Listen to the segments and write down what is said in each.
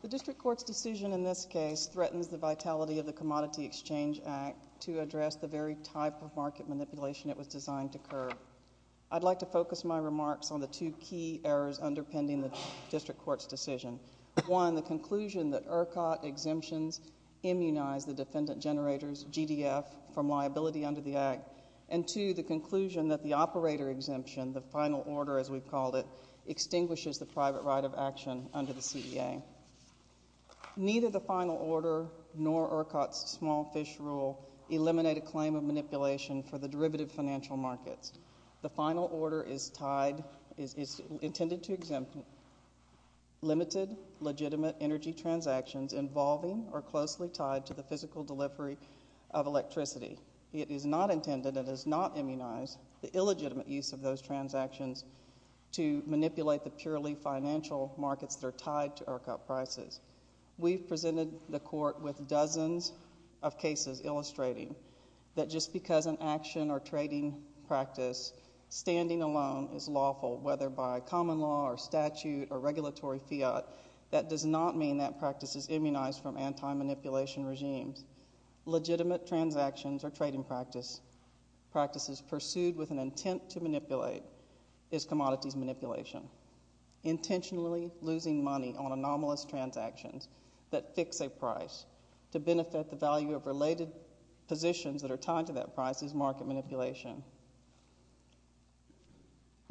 The District Court's decision in this case threatens the vitality of the Commodity Exchange Act to address the very type of market manipulation it was designed to curb. I'd like to focus my remarks on the two key errors underpinning the District Court's decision. One, the conclusion that ERCOT exemptions immunize the defendant-generator's GDF from liability under the Act. And two, the conclusion that the operator exemption, the final order as we've called it, extinguishes the private right of action under the CEA. Neither the final order nor ERCOT's small fish rule eliminate a claim of manipulation for the derivative financial markets. The involving or closely tied to the physical delivery of electricity. It is not intended and does not immunize the illegitimate use of those transactions to manipulate the purely financial markets that are tied to ERCOT prices. We've presented the Court with dozens of cases illustrating that just because an action or trading practice standing alone is lawful, whether by common law or statute or regulatory fiat, that does not mean that practice is immunized from anti-manipulation regimes. Legitimate transactions or trading practices pursued with an intent to manipulate is commodities manipulation. Intentionally losing money on anomalous transactions that fix a price to benefit the value of related positions that are tied to that price is market manipulation.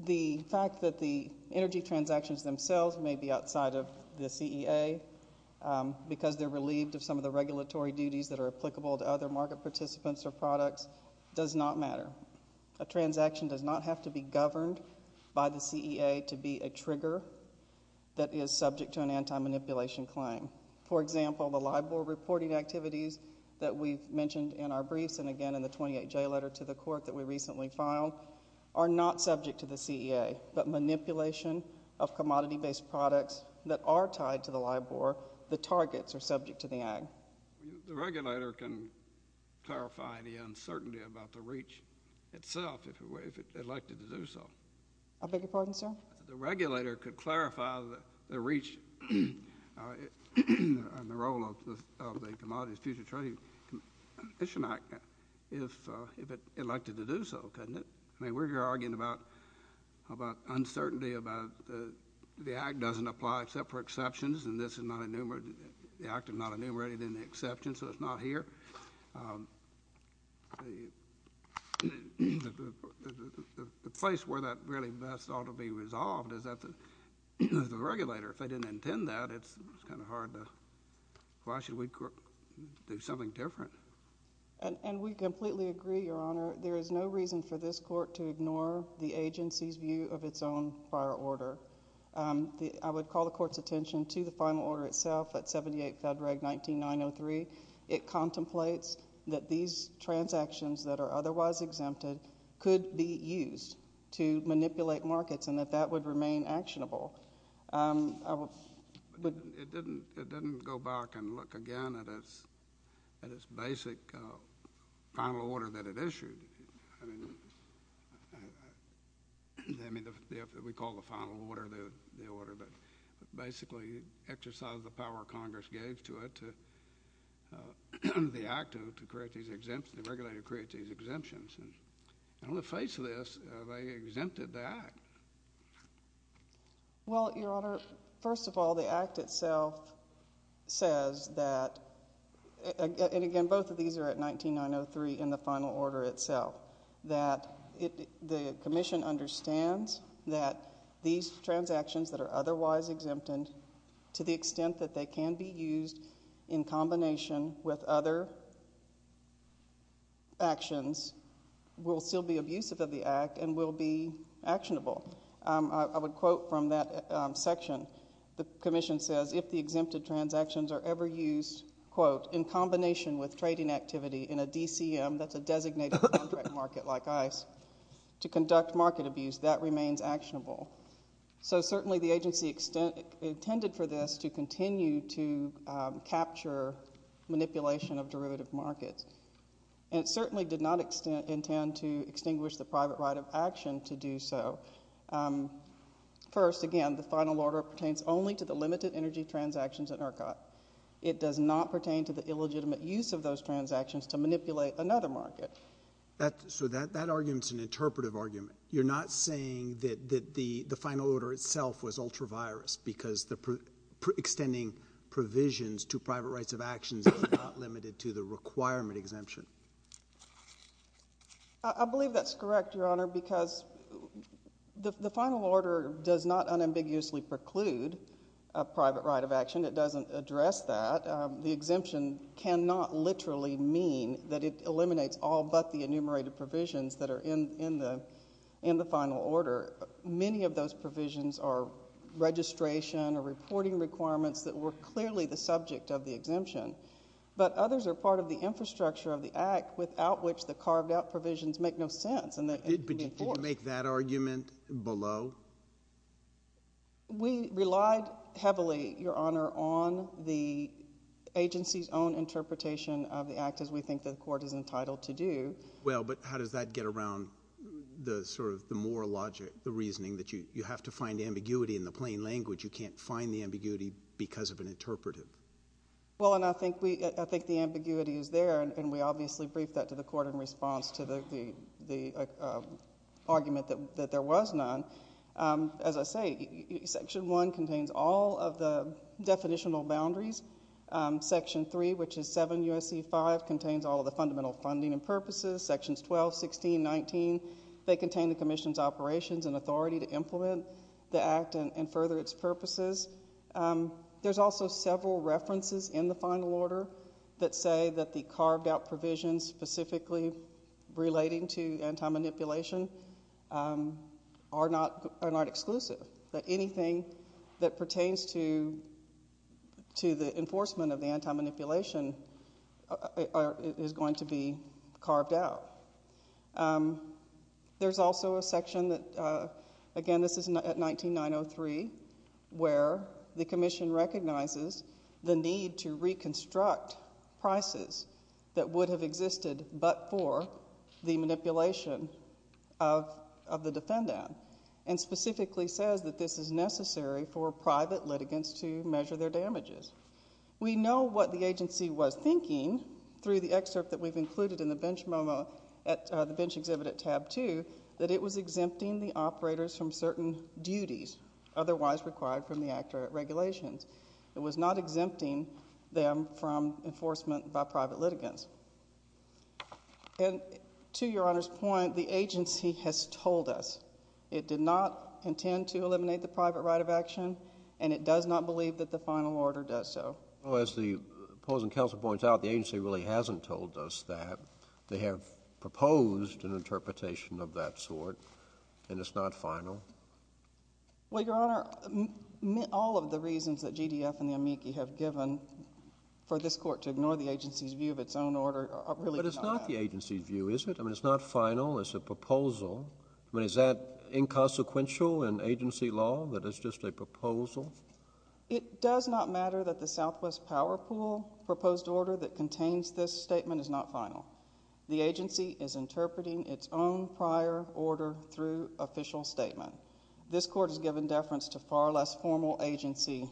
The fact that the energy transactions themselves may be outside of the CEA because they're relieved of some of the regulatory duties that are applicable to other market participants or products does not matter. A transaction does not have to be governed by the CEA to be a trigger that is subject to an anti-manipulation claim. For example, the LIBOR reporting activities that we've mentioned in our briefs and again in the 28J letter to the Court that we recently filed are not subject to the CEA, but manipulation of commodity-based products that are tied to the LIBOR, the targets are subject to the AG. The regulator can clarify the uncertainty about the reach itself if it would like to do so. I beg your pardon, sir? The regulator could clarify the reach and the role of the Commodities Future Trading Commission Act if it elected to do so, couldn't it? I mean, we're here arguing about uncertainty about the act doesn't apply except for exceptions and this is not enumerated, the act is not enumerated in the exceptions, so it's not here. The place where that really best ought to be resolved is at the regulator. If they didn't intend that, it's kind of hard to, why should we do something different? And we completely agree, Your Honor. There is no reason for this Court to ignore the agency's view of its own prior order. I would call the Court's attention to the final order itself at 78 Fed Reg 19903. It contemplates that these transactions that are otherwise exempted could be used to manipulate markets and that that would remain actionable. It didn't go back and look again at its basic final order that it issued. I mean, we call the final order the order that basically exercised the power Congress gave to it to, the act to create these exemptions, the regulator to create these exemptions. And on the faceless, they exempted the act. Well, Your Honor, first of all, the act itself says that, and again, both of these are at 19903 in the final order itself, that the Commission understands that these transactions that are otherwise exempted, to the extent that they can be used in combination with other actions, will still be abusive of the act and will be actionable. I would quote from that section, the Commission says, if the exempted transactions are ever used, quote, in combination with trading activity in a DCM, that's a designated contract market like the DCM. So certainly the agency intended for this to continue to capture manipulation of derivative markets. And it certainly did not intend to extinguish the private right of action to do so. First, again, the final order pertains only to the limited energy transactions at ERCOT. It does not pertain to the illegitimate use of those transactions to manipulate another market. So that argument's an interpretive argument. You're not saying that the final order itself was ultra-virus because extending provisions to private rights of actions is not limited to the requirement exemption? I believe that's correct, Your Honor, because the final order does not unambiguously preclude a private right of action. It doesn't address that. The exemption cannot literally mean that it eliminates all but the enumerated provisions that are in the final order. Many of those provisions are registration or reporting requirements that were clearly the subject of the exemption. But others are part of the infrastructure of the Act without which the carved-out provisions make no sense and they can be enforced. But did you make that argument below? We relied heavily, Your Honor, on the agency's own interpretation of the Act, as we think the Court is entitled to do. Well, but how does that get around the sort of the moral logic, the reasoning that you have to find ambiguity in the plain language? You can't find the ambiguity because of an interpretive. Well, and I think the ambiguity is there, and we obviously briefed that to the Court in response to the argument that there was none. As I say, Section 1 contains all of the definitional boundaries. Section 3, which is 7 U.S.C. 5, contains all of the fundamental funding and purposes. Sections 12, 16, 19, they contain the Commission's operations and authority to implement the Act and further its purposes. There's also several references in the final order that say that the carved-out provisions specifically relating to anti-manipulation are not exclusive, that anything that pertains to the enforcement of the anti-manipulation is going to be carved out. There's also a section that, again, this is at 19903, where the Commission recognizes the need to reconstruct prices that would have existed but for the manipulation of the defendant, and specifically says that this is necessary for private litigants to measure their damages. We know what the agency was thinking through the excerpt that we've included in the bench exhibit at tab 2, that it was exempting the operators from certain duties otherwise required from the Act or regulations. It was not exempting them from enforcement by private litigants. And to Your Honor's point, the agency has told us it did not intend to eliminate the private right of action, and it does not believe that the final order does so. As the opposing counsel points out, the agency really hasn't told us that. They have proposed an interpretation of that sort, and it's not final. Well, Your Honor, all of the reasons that GDF and the amici have given for this Court to ignore the agency's view of its own order are really not that. But it's not the agency's view, is it? I mean, it's not final. It's a proposal. I mean, is that inconsequential in agency law, that it's just a proposal? It does not matter that the Southwest Power Pool proposed order that contains this statement is not final. The agency is interpreting its own prior order through official statement. This Court has given deference to far less formal agency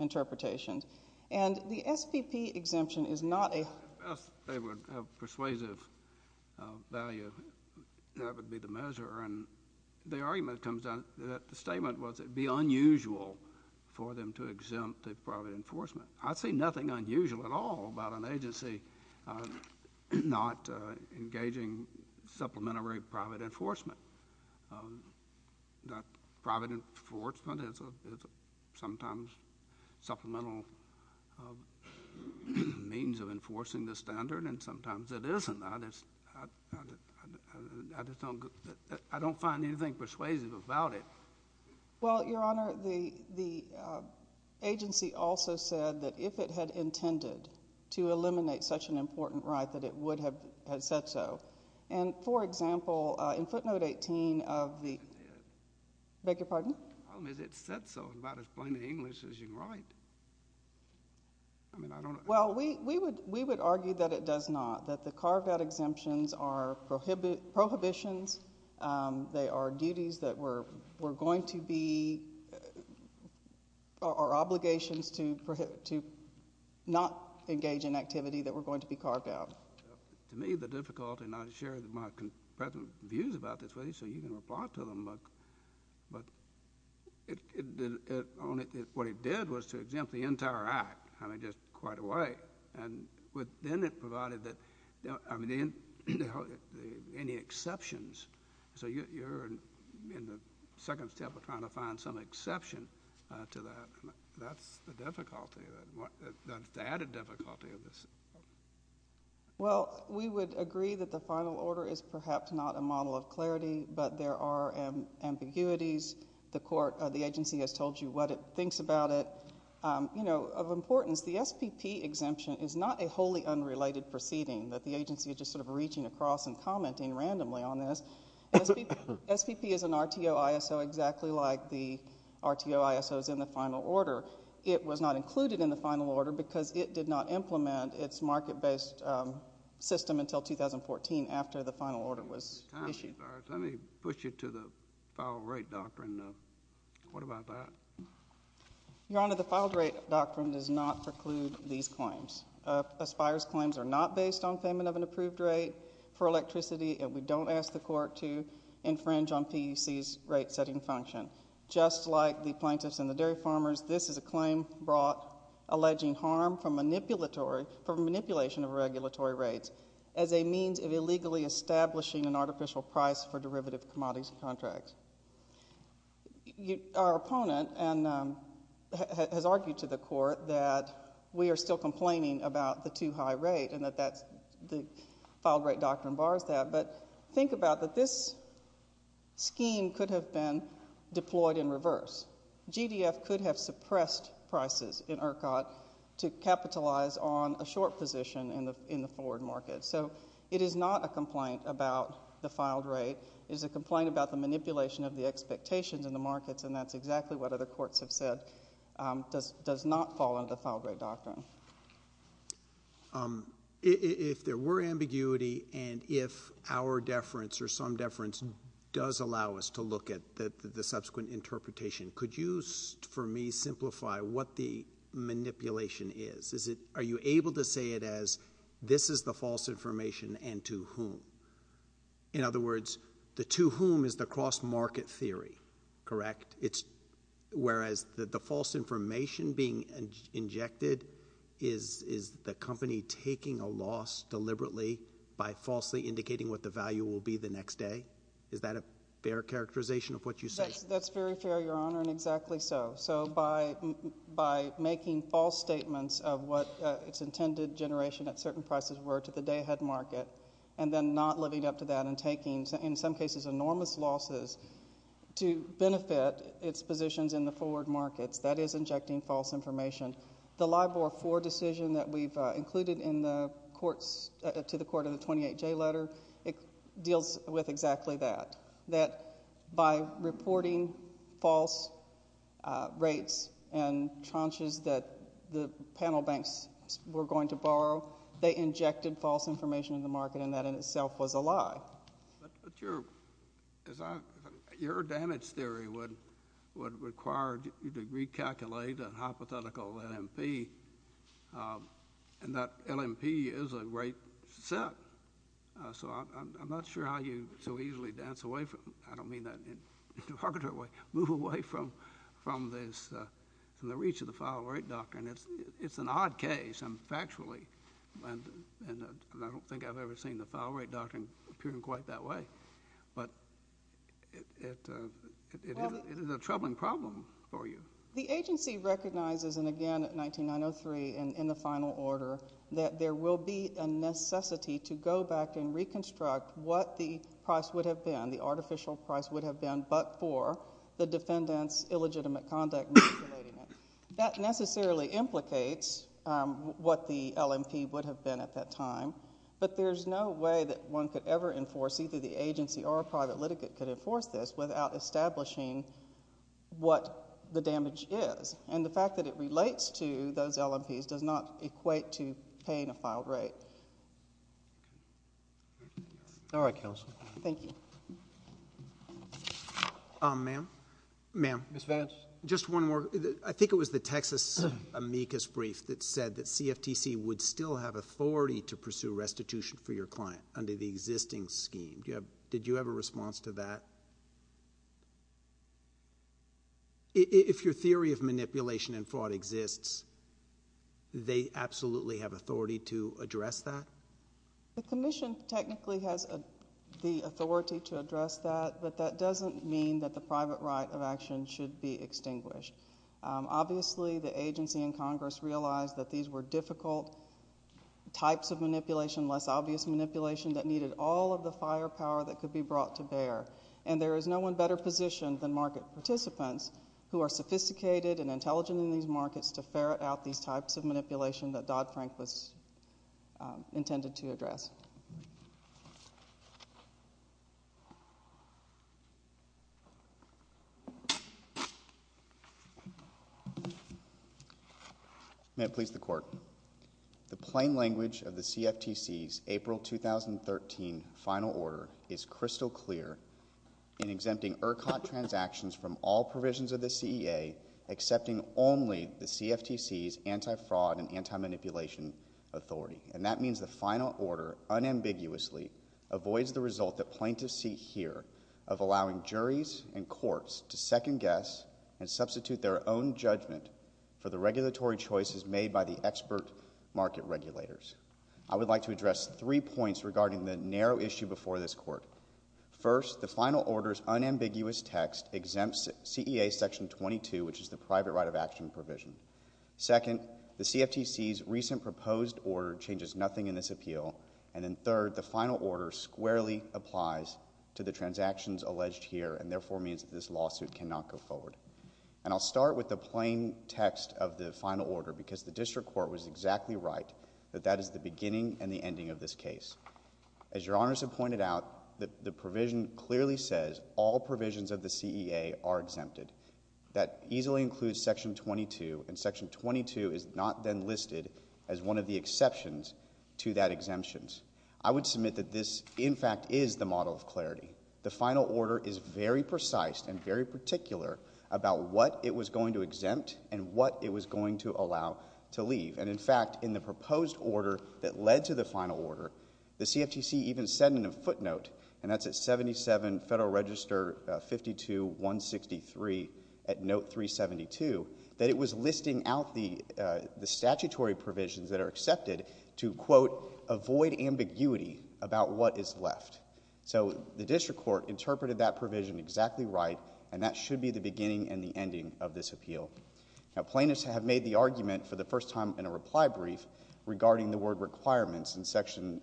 interpretations. And the SPP exemption is not a If they would have persuasive value, that would be the measure. And the argument comes out that the statement was it would be unusual for them to exempt the private enforcement. I see nothing unusual at all about an agency not engaging supplementary private enforcement. Private enforcement is sometimes supplemental means of enforcing the standard, and sometimes it isn't. I just don't find anything persuasive about it. Well, Your Honor, the agency also said that if it had intended to eliminate such an important right, that it would have said so. And, for example, in footnote 18 of the I didn't say it. I beg your pardon? I don't know. It said so in about as plain an English as you can write. I mean, I don't Well, we would argue that it does not, that the carved-out exemptions are prohibitions. They are duties that were going to be or obligations to not engage in activity that were going to be carved out. To me, the difficulty, and I share my views about this with you, so you can reply to them, but what it did was to exempt the entire act. I mean, just quite a way. And then it provided that, I mean, any exceptions. So you're in the second step of trying to find some exception to that. That's the difficulty, the added difficulty of this. Well, we would agree that the final order is perhaps not a model of clarity, but there are ambiguities. The agency has told you what it thinks about it. You know, of importance, the SPP exemption is not a wholly unrelated proceeding, that the agency is just sort of reaching across and commenting randomly on this. SPP is an RTO ISO, exactly like the RTO ISO is in the final order. It was not included in the final order because it did not implement its market-based system until 2014, after the final order was issued. Let me push you to the filed rate doctrine. What about that? Your Honor, the filed rate doctrine does not preclude these claims. Aspire's claims are not based on payment of an approved rate for electricity, and we don't ask the Court to infringe on PEC's rate-setting function. Just like the plaintiffs and the dairy farmers, this is a claim brought alleging harm for manipulation of regulatory rates as a means of illegally establishing an artificial price for derivative commodities and contracts. Our opponent has argued to the Court that we are still complaining about the too-high rate, and that the filed rate doctrine bars that. But think about that this scheme could have been deployed in reverse. GDF could have suppressed prices in ERCOT to capitalize on a short position in the forward market. So it is not a complaint about the filed rate. It is a complaint about the manipulation of the expectations in the markets, and that's exactly what other courts have said, does not fall under the filed rate doctrine. If there were ambiguity, and if our deference or some deference does allow us to look at the subsequent interpretation, could you, for me, simplify what the manipulation is? Are you able to say it as, this is the false information, and to whom? In other words, the to whom is the cross-market theory, correct? Whereas the false information being injected is the company taking a loss deliberately by falsely indicating what the value will be the next day? Is that a fair characterization of what you say? That's very fair, Your Honor, and exactly so. So by making false statements of what its intended generation at certain prices were to the day-ahead market, and then not living up to that and taking, in some cases, enormous losses to benefit its positions in the forward markets, that is injecting false information. The LIBOR 4 decision that we've included in the courts, to the court of the 28J letter, it deals with exactly that, that by reporting false rates and tranches that the panel banks were going to borrow, they injected false information in the market, and that in itself was a lie. But your damage theory would require you to recalculate a hypothetical LMP, and that LMP is a great set. So I'm not sure how you so easily dance away from, I don't mean that in a derogatory way, move away from the reach of the file rate doctrine. It's an odd case, factually, and I don't think I've ever seen the file rate doctrine appearing quite that way. But it is a troubling problem for you. The agency recognizes, and again, at 19903, in the final order, that there will be a necessity to go back and reconstruct what the price would have been, the artificial price would have been, but for the defendant's illegitimate conduct in calculating it. That necessarily implicates what the LMP would have been at that time, but there's no way that one could ever enforce, either the agency or a private litigate could enforce this without establishing what the damage is. And the fact that it relates to those LMPs does not equate to paying a file rate. All right, counsel. Thank you. Ma'am? Ma'am? Ms. Vance? Just one more. I think it was the Texas amicus brief that said that CFTC would still have authority to pursue restitution for your client under the existing scheme. Did you have a response to that? If your theory of manipulation and fraud exists, they absolutely have authority to address that? The commission technically has the authority to address that, but that doesn't mean that the private right of action should be extinguished. Obviously, the agency and Congress realized that these were difficult types of manipulation, less obvious manipulation that needed all of the firepower that could be brought to bear, and there is no one better positioned than market participants who are sophisticated and intelligent in these markets to ferret out these types of manipulation that Dodd-Frank was intended to address. May it please the Court. The plain language of the CFTC's April 2013 final order is crystal clear in exempting ERCOT transactions from all provisions of the CEA, accepting only the CFTC's anti-fraud and anti-manipulation authority, and that means the final order unambiguously avoids the result that plaintiffs see here of allowing juries and courts to second guess and substitute their own judgment for the regulatory choices made by the expert market regulators. I would like to address three points regarding the narrow issue before this Court. First, the final order's unambiguous text exempts CEA section 22, which is the provision. Second, the CFTC's recent proposed order changes nothing in this appeal, and then third, the final order squarely applies to the transactions alleged here and therefore means that this lawsuit cannot go forward. And I'll start with the plain text of the final order because the district court was exactly right that that is the beginning and the ending of this case. As Your Honors have pointed out, the provision clearly says all include section 22, and section 22 is not then listed as one of the exceptions to that exemptions. I would submit that this, in fact, is the model of clarity. The final order is very precise and very particular about what it was going to exempt and what it was going to allow to leave. And in fact, in the proposed order that led to the final order, the CFTC even said in a footnote, and that's at 77 Federal Register 52-163 at note 372, that it was listing out the statutory provisions that are accepted to, quote, avoid ambiguity about what is left. So the district court interpreted that provision exactly right, and that should be the beginning and the ending of this appeal. Now plaintiffs have made the argument for the first time in a reply brief regarding the word requirements in section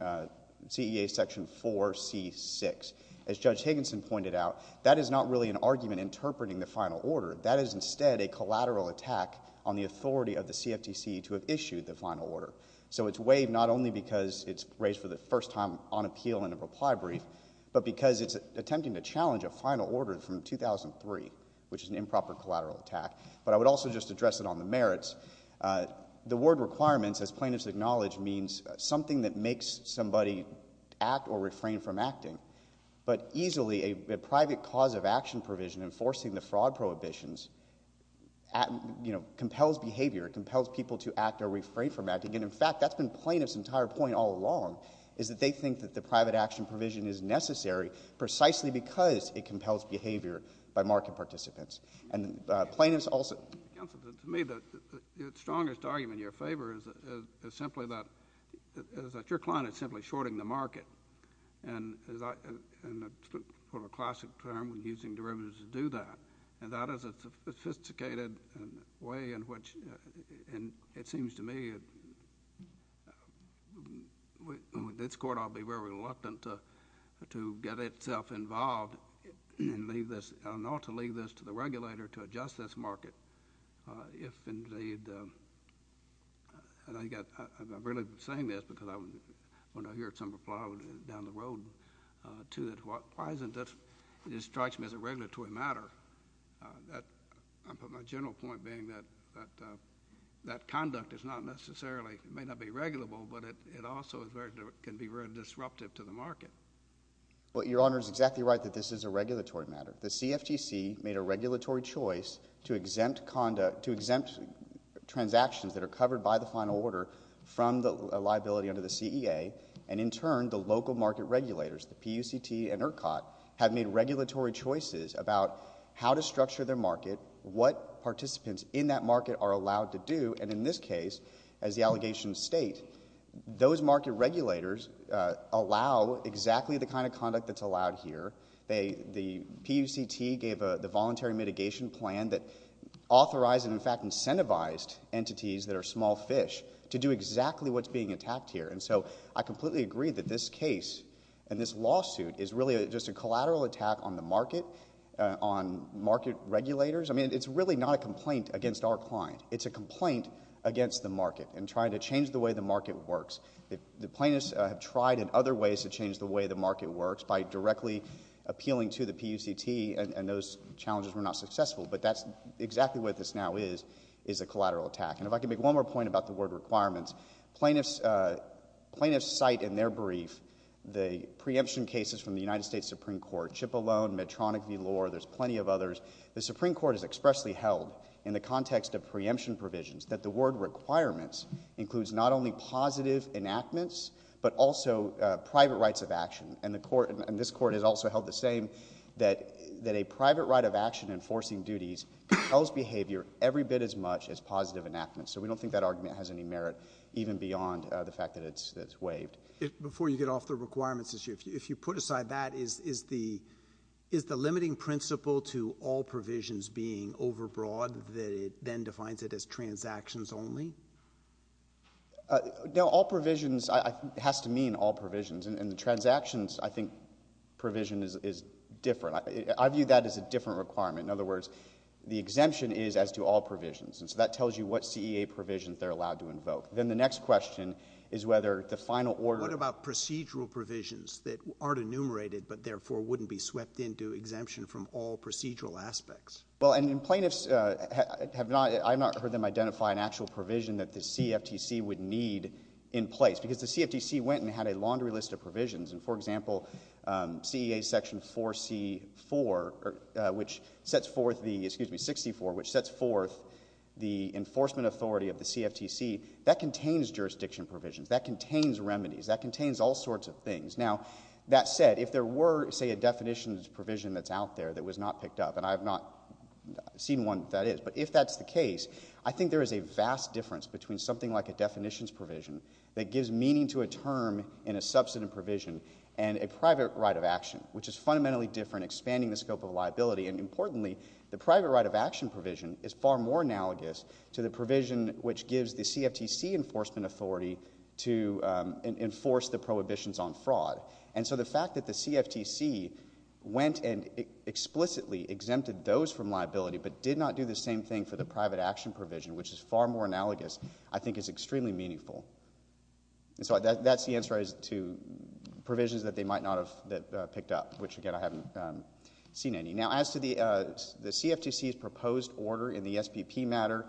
CEA section 4C-6. As Judge Higginson pointed out, that is not really an argument interpreting the final order. That is instead a collateral attack on the authority of the CFTC to have issued the final order. So it's waived not only because it's raised for the first time on appeal in a reply brief, but because it's attempting to challenge a final order from 2003, which is an improper collateral attack. But I would also just address it on the merits. The word requirements, as plaintiffs acknowledge, means something that makes somebody act or refrain from acting. But easily a private cause of action provision enforcing the fraud prohibitions, you know, compels behavior, it compels people to act or refrain from acting. And in fact, that's been plaintiffs' entire point all along, is that they think that the private action provision is necessary precisely because it compels behavior by market participants. And plaintiffs also... Counsel, to me, the strongest argument in your favor is simply that your client is simply shorting the market. And as I put a classic term, using derivatives to do that. And that is a sophisticated way in which, and it seems to me, with this Court I'll be very reluctant to get itself involved and leave this, or not to leave this to the regulator to adjust this market if indeed... And I've really been saying this because when I hear some reply down the road to it, why isn't this, it strikes me as a regulatory matter. My general point being that that conduct is not necessarily, it may not be regulable, but it also can be very disruptive to the market. Well, Your Honor is exactly right that this is a regulatory matter. The CFTC made a regulatory choice to exempt conduct, to exempt transactions that are covered by the final order from the liability under the CEA. And in turn, the local market regulators, the PUCT and ERCOT, have made regulatory choices about how to structure their market, what participants in that market are allowed to do, and in this case, as the allegations state, those market regulators allow exactly the kind of conduct that's allowed here. The PUCT gave the voluntary mitigation plan that authorized and, in fact, incentivized entities that are small fish to do exactly what's being attacked here. And so I completely agree that this case and this lawsuit is really just a collateral attack on the market, on market regulators. I mean, it's really not a complaint against our client. It's a complaint against the market in trying to change the way the market works. The plaintiffs have tried in other ways to change the way the market works by directly appealing to the PUCT, and those challenges were not successful. But that's exactly what this now is, is a collateral attack. And if I could make one more point about the word requirements, plaintiffs cite in their brief the preemption cases from the United States Supreme Court, Chippolone, Medtronic v. Lohr, there's plenty of others. The Supreme Court has expressly held in the context of not only positive enactments, but also private rights of action. And this Court has also held the same, that a private right of action enforcing duties compels behavior every bit as much as positive enactments. So we don't think that argument has any merit even beyond the fact that it's waived. Before you get off the requirements issue, if you put aside that, is the limiting principle to all provisions being overbroad, that it then defines it as transactions only? No, all provisions has to mean all provisions. And the transactions, I think, provision is different. I view that as a different requirement. In other words, the exemption is as to all provisions. And so that tells you what CEA provisions they're allowed to invoke. Then the next question is whether the final order What about procedural provisions that aren't enumerated, but therefore wouldn't be swept into exemption from all procedural aspects? Well, and plaintiffs have not, I've not heard them identify an actual provision that the CFTC would need in place. Because the CFTC went and had a laundry list of provisions. And for example, CEA section 4C4, which sets forth the, excuse me, 64, which sets forth the enforcement authority of the CFTC, that contains jurisdiction provisions. That contains remedies. That contains all sorts of things. Now, that said, if there were, say, a definitions provision that's out there that was not picked up, and I've not seen one that is, but if that's the case, I think there is a vast difference between something like a definitions provision that gives meaning to a term in a substantive provision and a private right of action, which is fundamentally different, expanding the scope of liability. And importantly, the private right of action provision is far more analogous to the provision which gives the CFTC enforcement authority to enforce the prohibitions on fraud. And so the fact that the CFTC went and explicitly exempted those from liability but did not do the same thing for the private action provision, which is far more analogous, I think is extremely meaningful. And so that's the answer as to provisions that they might not have picked up, which again, I haven't seen any. Now as to the CFTC's proposed order in the SPP matter,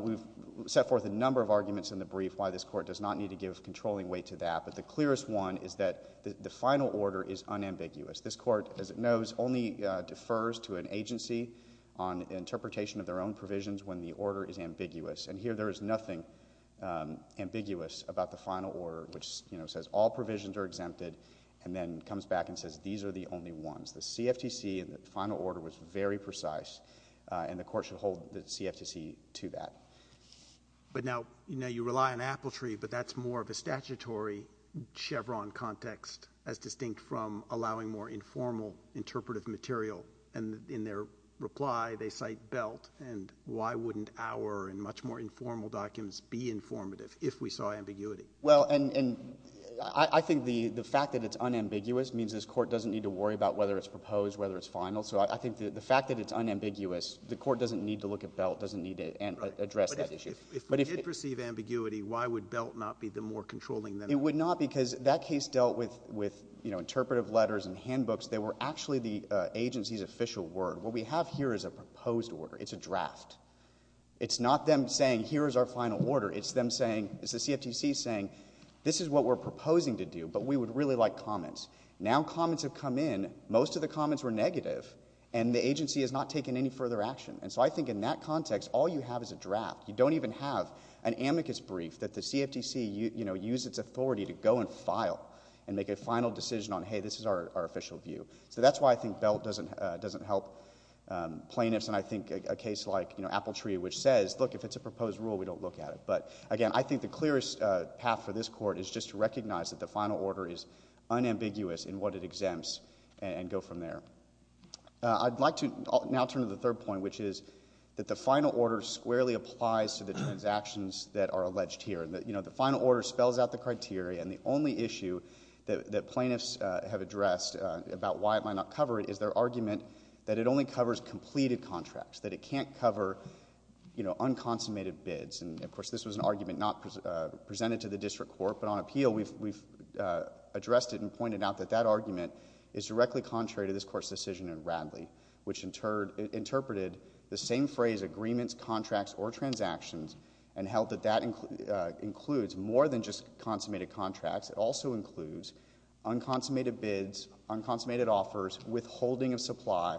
we've set forth a number of arguments in the brief why this court does not need to give controlling weight to that. But the final order is unambiguous. This court, as it knows, only defers to an agency on interpretation of their own provisions when the order is ambiguous. And here there is nothing ambiguous about the final order, which says all provisions are exempted and then comes back and says these are the only ones. The CFTC in the final order was very precise and the court should hold the CFTC to that. But now, you know, you rely on apaltry, but that's more of a statutory Chevron context as distinct from allowing more informal interpretive material. And in their reply, they cite belt and why wouldn't our and much more informal documents be informative if we saw ambiguity? Well, and I think the fact that it's unambiguous means this court doesn't need to worry about whether it's proposed, whether it's final. So I think the fact that it's unambiguous, the court doesn't need to look at belt, doesn't need to address that issue. But if we did perceive ambiguity, why would belt not be the more controlling thing? It would not because that case dealt with, you know, interpretive letters and handbooks. They were actually the agency's official word. What we have here is a proposed order. It's a draft. It's not them saying here is our final order. It's them saying, it's the CFTC saying, this is what we're proposing to do, but we would really like comments. Now comments have come in. Most of the comments were negative, and the agency has not taken any further action. And so I think in that context, all you have is a draft. You don't even have an amicus brief that the CFTC, you know, used its authority to go and file and make a final decision on, hey, this is our official view. So that's why I think belt doesn't help plaintiffs and I think a case like, you know, Appletree, which says, look, if it's a proposed rule, we don't look at it. But again, I think the clearest path for this court is just to recognize that the final order is unambiguous in what it exempts and go from there. I'd like to now turn to the third point, which is that the final order squarely applies to the transactions that are alleged here. You know, the final order spells out the criteria, and the only issue that plaintiffs have addressed about why it might not cover it is their argument that it only covers completed contracts, that it can't cover, you know, unconsummated bids. And, of course, this was an argument not presented to the district court, but on appeal we've addressed it and pointed out that that argument is directly contrary to this court's decision in Radley, which interpreted the same phrase, agreements, contracts, or transactions, and held that that includes more than just consummated contracts. It also includes unconsummated bids, unconsummated offers, withholding of supply.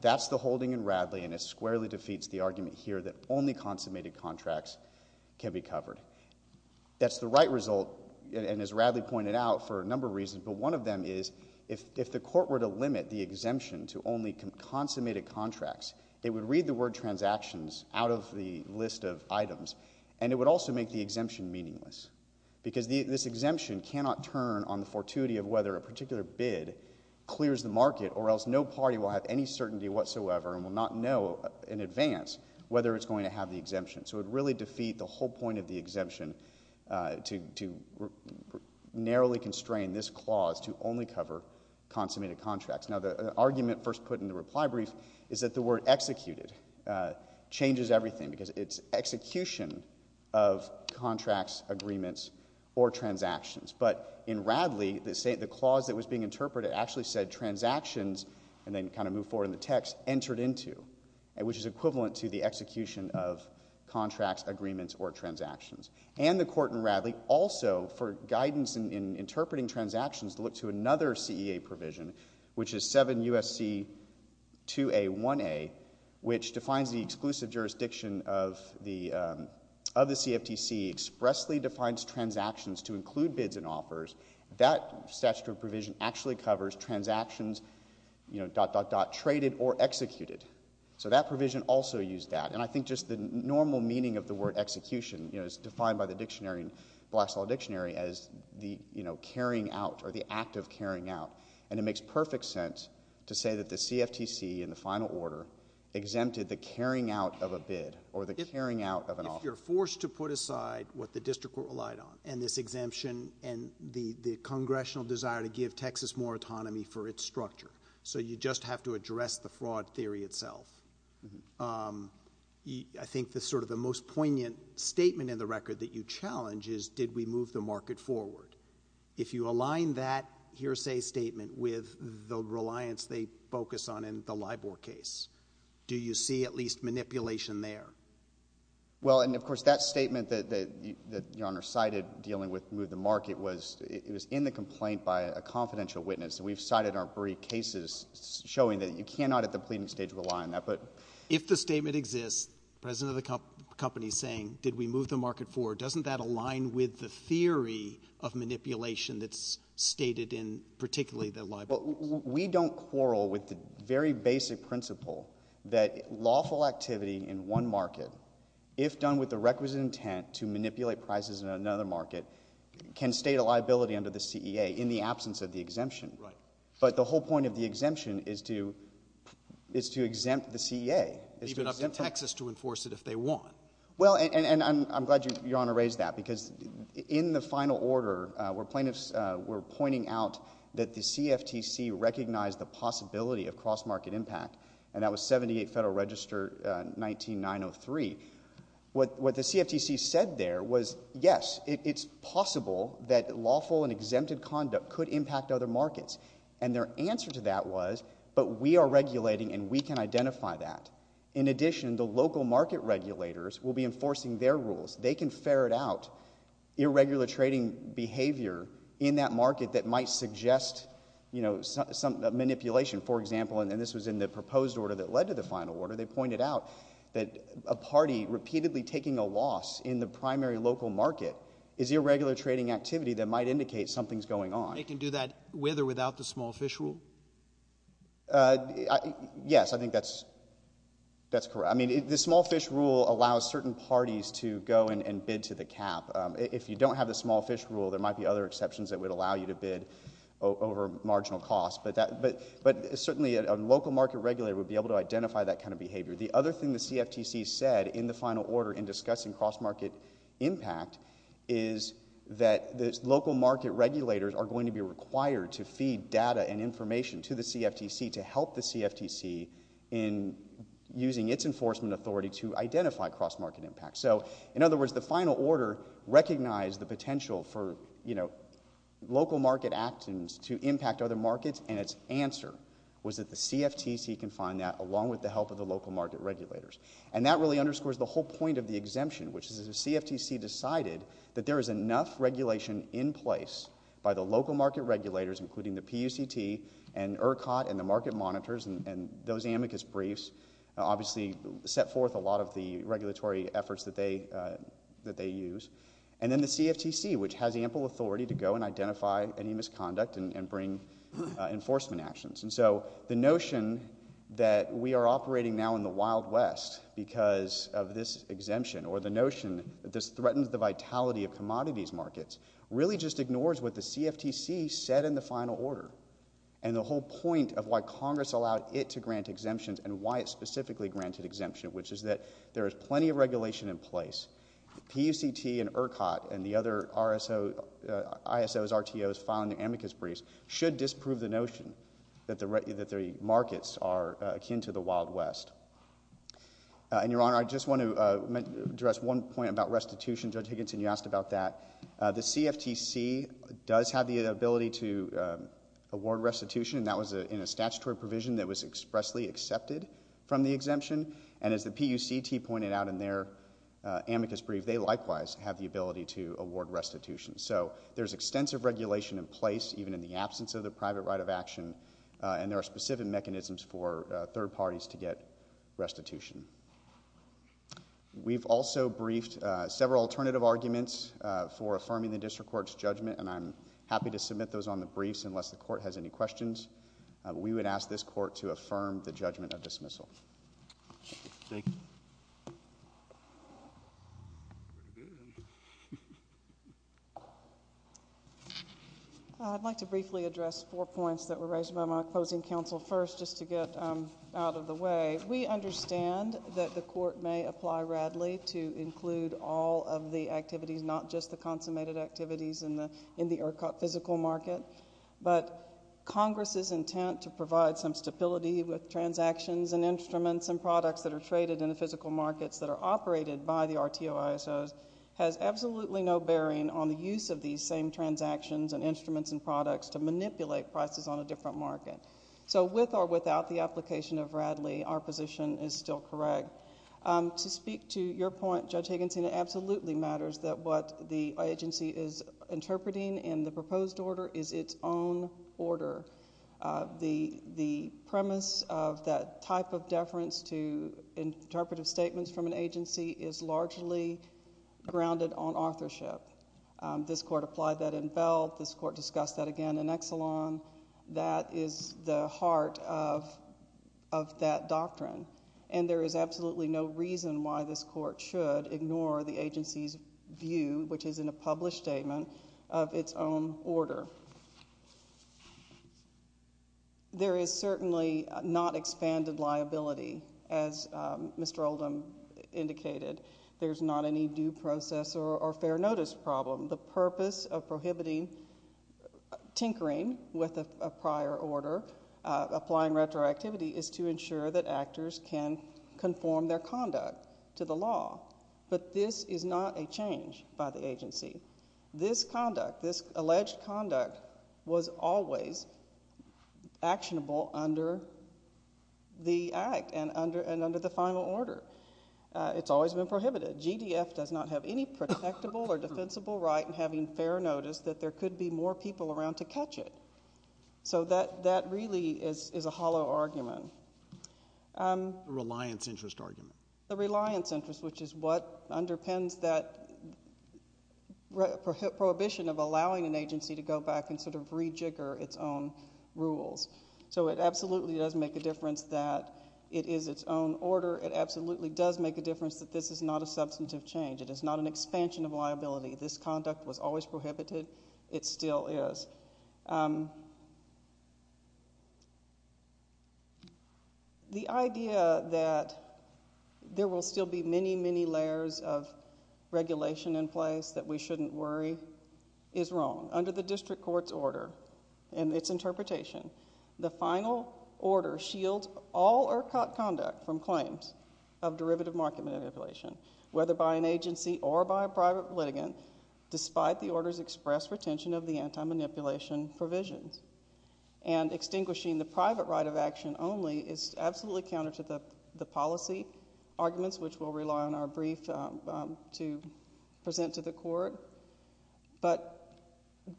That's the holding in Radley, and this squarely defeats the argument here that only consummated contracts can be covered. That's the right result, and as Radley pointed out, for a number of reasons, but one of them is if the court were to limit the exemption to only consummated contracts, it would read the word transactions out of the list of items, and it would also make the exemption meaningless, because this exemption cannot turn on the fortuity of whether a particular bid clears the market, or else no party will have any certainty whatsoever and will not know in advance whether it's going to have the exemption. So it would really defeat the whole point of the exemption to narrowly constrain this clause to only cover consummated contracts. Now, the argument first put in the reply brief is that the word executed changes everything, because it's execution of contracts, agreements, or transactions. But in Radley, the clause that was being interpreted actually said transactions, and then kind of move forward in the text, entered into, which is equivalent to the execution of contracts, agreements, or transactions. And the court in Radley also, for guidance in interpreting transactions, looked to another CEA provision, which is 7 U.S.C. 2A1A, which defines the exclusive jurisdiction of the CFTC, expressly defines transactions to include bids and offers. That statutory provision actually covers transactions, you know, dot, dot, dot, traded or executed. So that provision also used that. And I think just the normal meaning of the word execution, you know, is defined by the dictionary, Black's Law dictionary, as the, you know, carrying out, or the act of carrying out. And it makes perfect sense to say that the CFTC, in the final order, exempted the carrying out of a bid, or the carrying out of an offer. If you're forced to put aside what the district relied on, and this exemption, and the Congressional desire to give Texas more autonomy for its structure, so you just have to address the fraud theory itself, I think the sort of the most poignant statement in the record that you challenge is, did we move the market forward? If you align that hearsay statement with the reliance they focus on in the LIBOR case, do you see at least manipulation there? Well, and of course, that statement that, that, that Your Honor cited, dealing with move the market, was, it was in the complaint by a confidential witness. And we've cited our brief cases showing that you cannot, at the pleading stage, rely on that. But If the statement exists, the president of the company is saying, did we move the market forward, doesn't that align with the theory of manipulation that's stated in particularly the LIBOR case? We don't quarrel with the very basic principle that lawful activity in one market, if done with the requisite intent to manipulate prices in another market, can state a liability under the CEA in the absence of the exemption. But the whole point of the exemption is to, is to exempt the CEA. Even up to Texas to enforce it if they want. Well, and I'm glad Your Honor raised that, because in the final order, we're pointing out that the CFTC recognized the possibility of cross-market impact. And that was 78 Federal Register 19903. What, what the CFTC said there was, yes, it, it's possible that lawful and exempted conduct could impact other markets. And their answer to that was, but we are regulating and we can identify that. In addition, the local market regulators will be enforcing their rules. They can ferret out irregular trading behavior in that market that might suggest, you know, some, some manipulation. For example, and this was in the proposed order that led to the final order, they pointed out that a party repeatedly taking a loss in the primary local market is irregular trading activity that might indicate something's going on. They can do that with or without the small fish rule? Yes, I think that's, that's correct. I mean, the small fish rule allows certain parties to go and, and bid to the cap. If you don't have the small fish rule, there might be other exceptions that would allow you to bid over marginal cost. But that, but, but certainly a local market regulator would be able to identify that kind of behavior. The other thing the CFTC said in the final order in discussing cross-market impact is that the local market regulators are going to be required to feed data and information to the CFTC to help the CFTC in using its enforcement authority to identify cross-market impact. So in other words, the final order recognized the potential for, you know, local market actions to impact other markets. And its answer was that the CFTC can find that along with the help of the local market regulators. And that really underscores the whole point of the exemption, which is the CFTC decided that there is enough regulation in place by the local market regulators, including the PUCT and ERCOT and the market monitors and, and those amicus briefs obviously set forth a lot of the regulatory efforts that they, that they use. And then the CFTC, which has ample authority to go and identify any misconduct and bring enforcement actions. And so the notion that we are operating now in the Wild West because of this exemption or the notion that this threatens the vitality of commodities markets really just ignores what the CFTC said in the final order. And the whole point of why Congress allowed it to grant exemptions and why it specifically granted exemption, which is that there is plenty of regulation in place. PUCT and ERCOT and the other RSO, ISOs, RTOs filing the amicus briefs should disprove the notion that the, that the markets are akin to the Wild West. And Your Honor, I just want to address one point about restitution. Judge Higginson, you asked about that. The CFTC does have the ability to award restitution and that was in a statutory provision that was expressly accepted from the exemption. And as the PUCT pointed out in their amicus brief, they likewise have the ability to award restitution. So there's extensive regulation in place, even in the absence of the private right of action. And there are specific mechanisms for third parties to get restitution. We've also briefed several alternative arguments for affirming the district court's judgment and I'm happy to submit those on the briefs unless the court has any questions. We would ask this court to affirm the judgment of dismissal. Thank you. I'd like to briefly address four points that were raised by my opposing counsel first, just to get out of the way. We understand that the court may apply Radley to include all of the activities, not just the consummated activities in the, in the ERCOT physical market. But Congress's intent to provide some stability with transactions and instruments and products that are traded in the physical markets that are operated by the RTO, ISOs has absolutely no bearing on the use of these same transactions and instruments and products to manipulate prices on a different market. So with or without the application of Radley, our position is still correct. To speak to your point, Judge Hagenstein, it absolutely matters that what the agency is interpreting in the proposed order is its own order. The, the premise of that type of deference to interpretive statements from an agency is largely grounded on authorship. This court applied that in Veld. This court discussed that again in Exelon. That is the heart of, of that doctrine. And there is absolutely no reason why this court should ignore the agency's view, which is in a published statement, of its own order. There is certainly not expanded liability, as Mr. Oldham pointed out in his statement, indicated. There's not any due process or, or fair notice problem. The purpose of prohibiting tinkering with a prior order, applying retroactivity, is to ensure that actors can conform their conduct to the law. But this is not a change by the agency. This conduct, this alleged conduct, was always actionable under the Act and under, and under the final order. It's always been prohibited. GDF does not have any protectable or defensible right in having fair notice that there could be more people around to catch it. So that, that really is, is a hollow argument. A reliance interest argument. A reliance interest, which is what underpins that prohibition of allowing an agency to go back and sort of rejigger its own rules. So it absolutely does make a difference that it is its own order. It absolutely does make a difference that this is not a substantive change. It is not an expansion of liability. This conduct was always prohibited. It still is. The idea that there will still be many, many layers of regulation in place that we shouldn't worry is wrong. Under the district court's order and its interpretation, the final order shields all or caught conduct from claims of derivative market manipulation, whether by an agency or by a private litigant, despite the order's express retention of the anti-manipulation provisions. And extinguishing the private right of action only is absolutely counter to the policy arguments, which we'll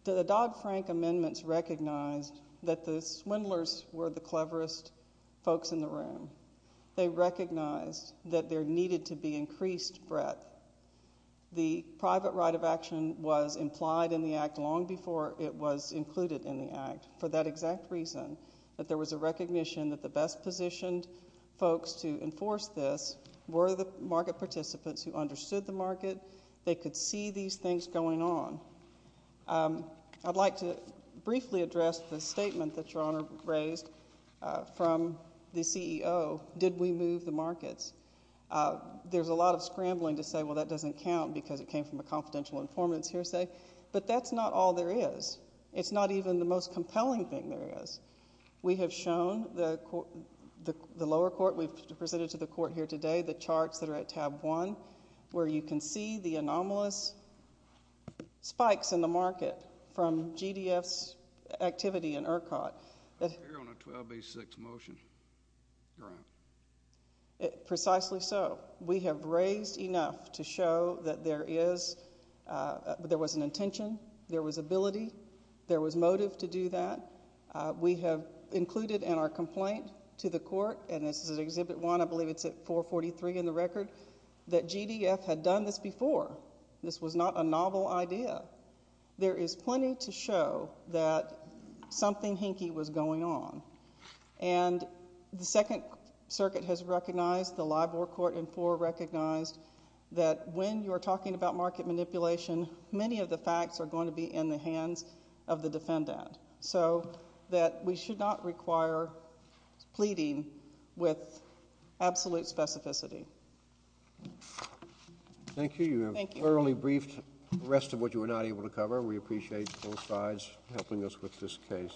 The Dodd-Frank amendments recognized that the swindlers were the cleverest folks in the room. They recognized that there needed to be increased breadth. The private right of action was implied in the act long before it was included in the act for that exact reason, that there was a recognition that the best positioned folks to enforce this were the market participants who understood the market. They could see these things going on. I'd like to briefly address the statement that Your Honor raised from the CEO, did we move the markets? There's a lot of scrambling to say, well, that doesn't count because it came from a confidential informant's hearsay, but that's not all there is. It's not even the most compelling thing there is. We have shown the lower court, we've presented to the court here today, the charts that are at tab one, where you can see the anomalous spikes in the market from GDF's activity in ERCOT. I'm here on a 1286 motion, Your Honor. Precisely so. We have raised enough to show that there was an intention, there was ability, there was motive to do that. We have included in our complaint to the court, and this is Exhibit 1, I believe it's at 443 in the record, that GDF had done this before. This was not a novel idea. There is plenty to show that something hinky was going on. The Second Circuit has recognized, the LIBOR court in four recognized, that when you're talking about market manipulation, many of the facts are going to be in the hands of the defendant. We should not require pleading with absolute specificity. Thank you. You have thoroughly briefed the rest of what you were not able to cover. We appreciate both sides helping us with this case.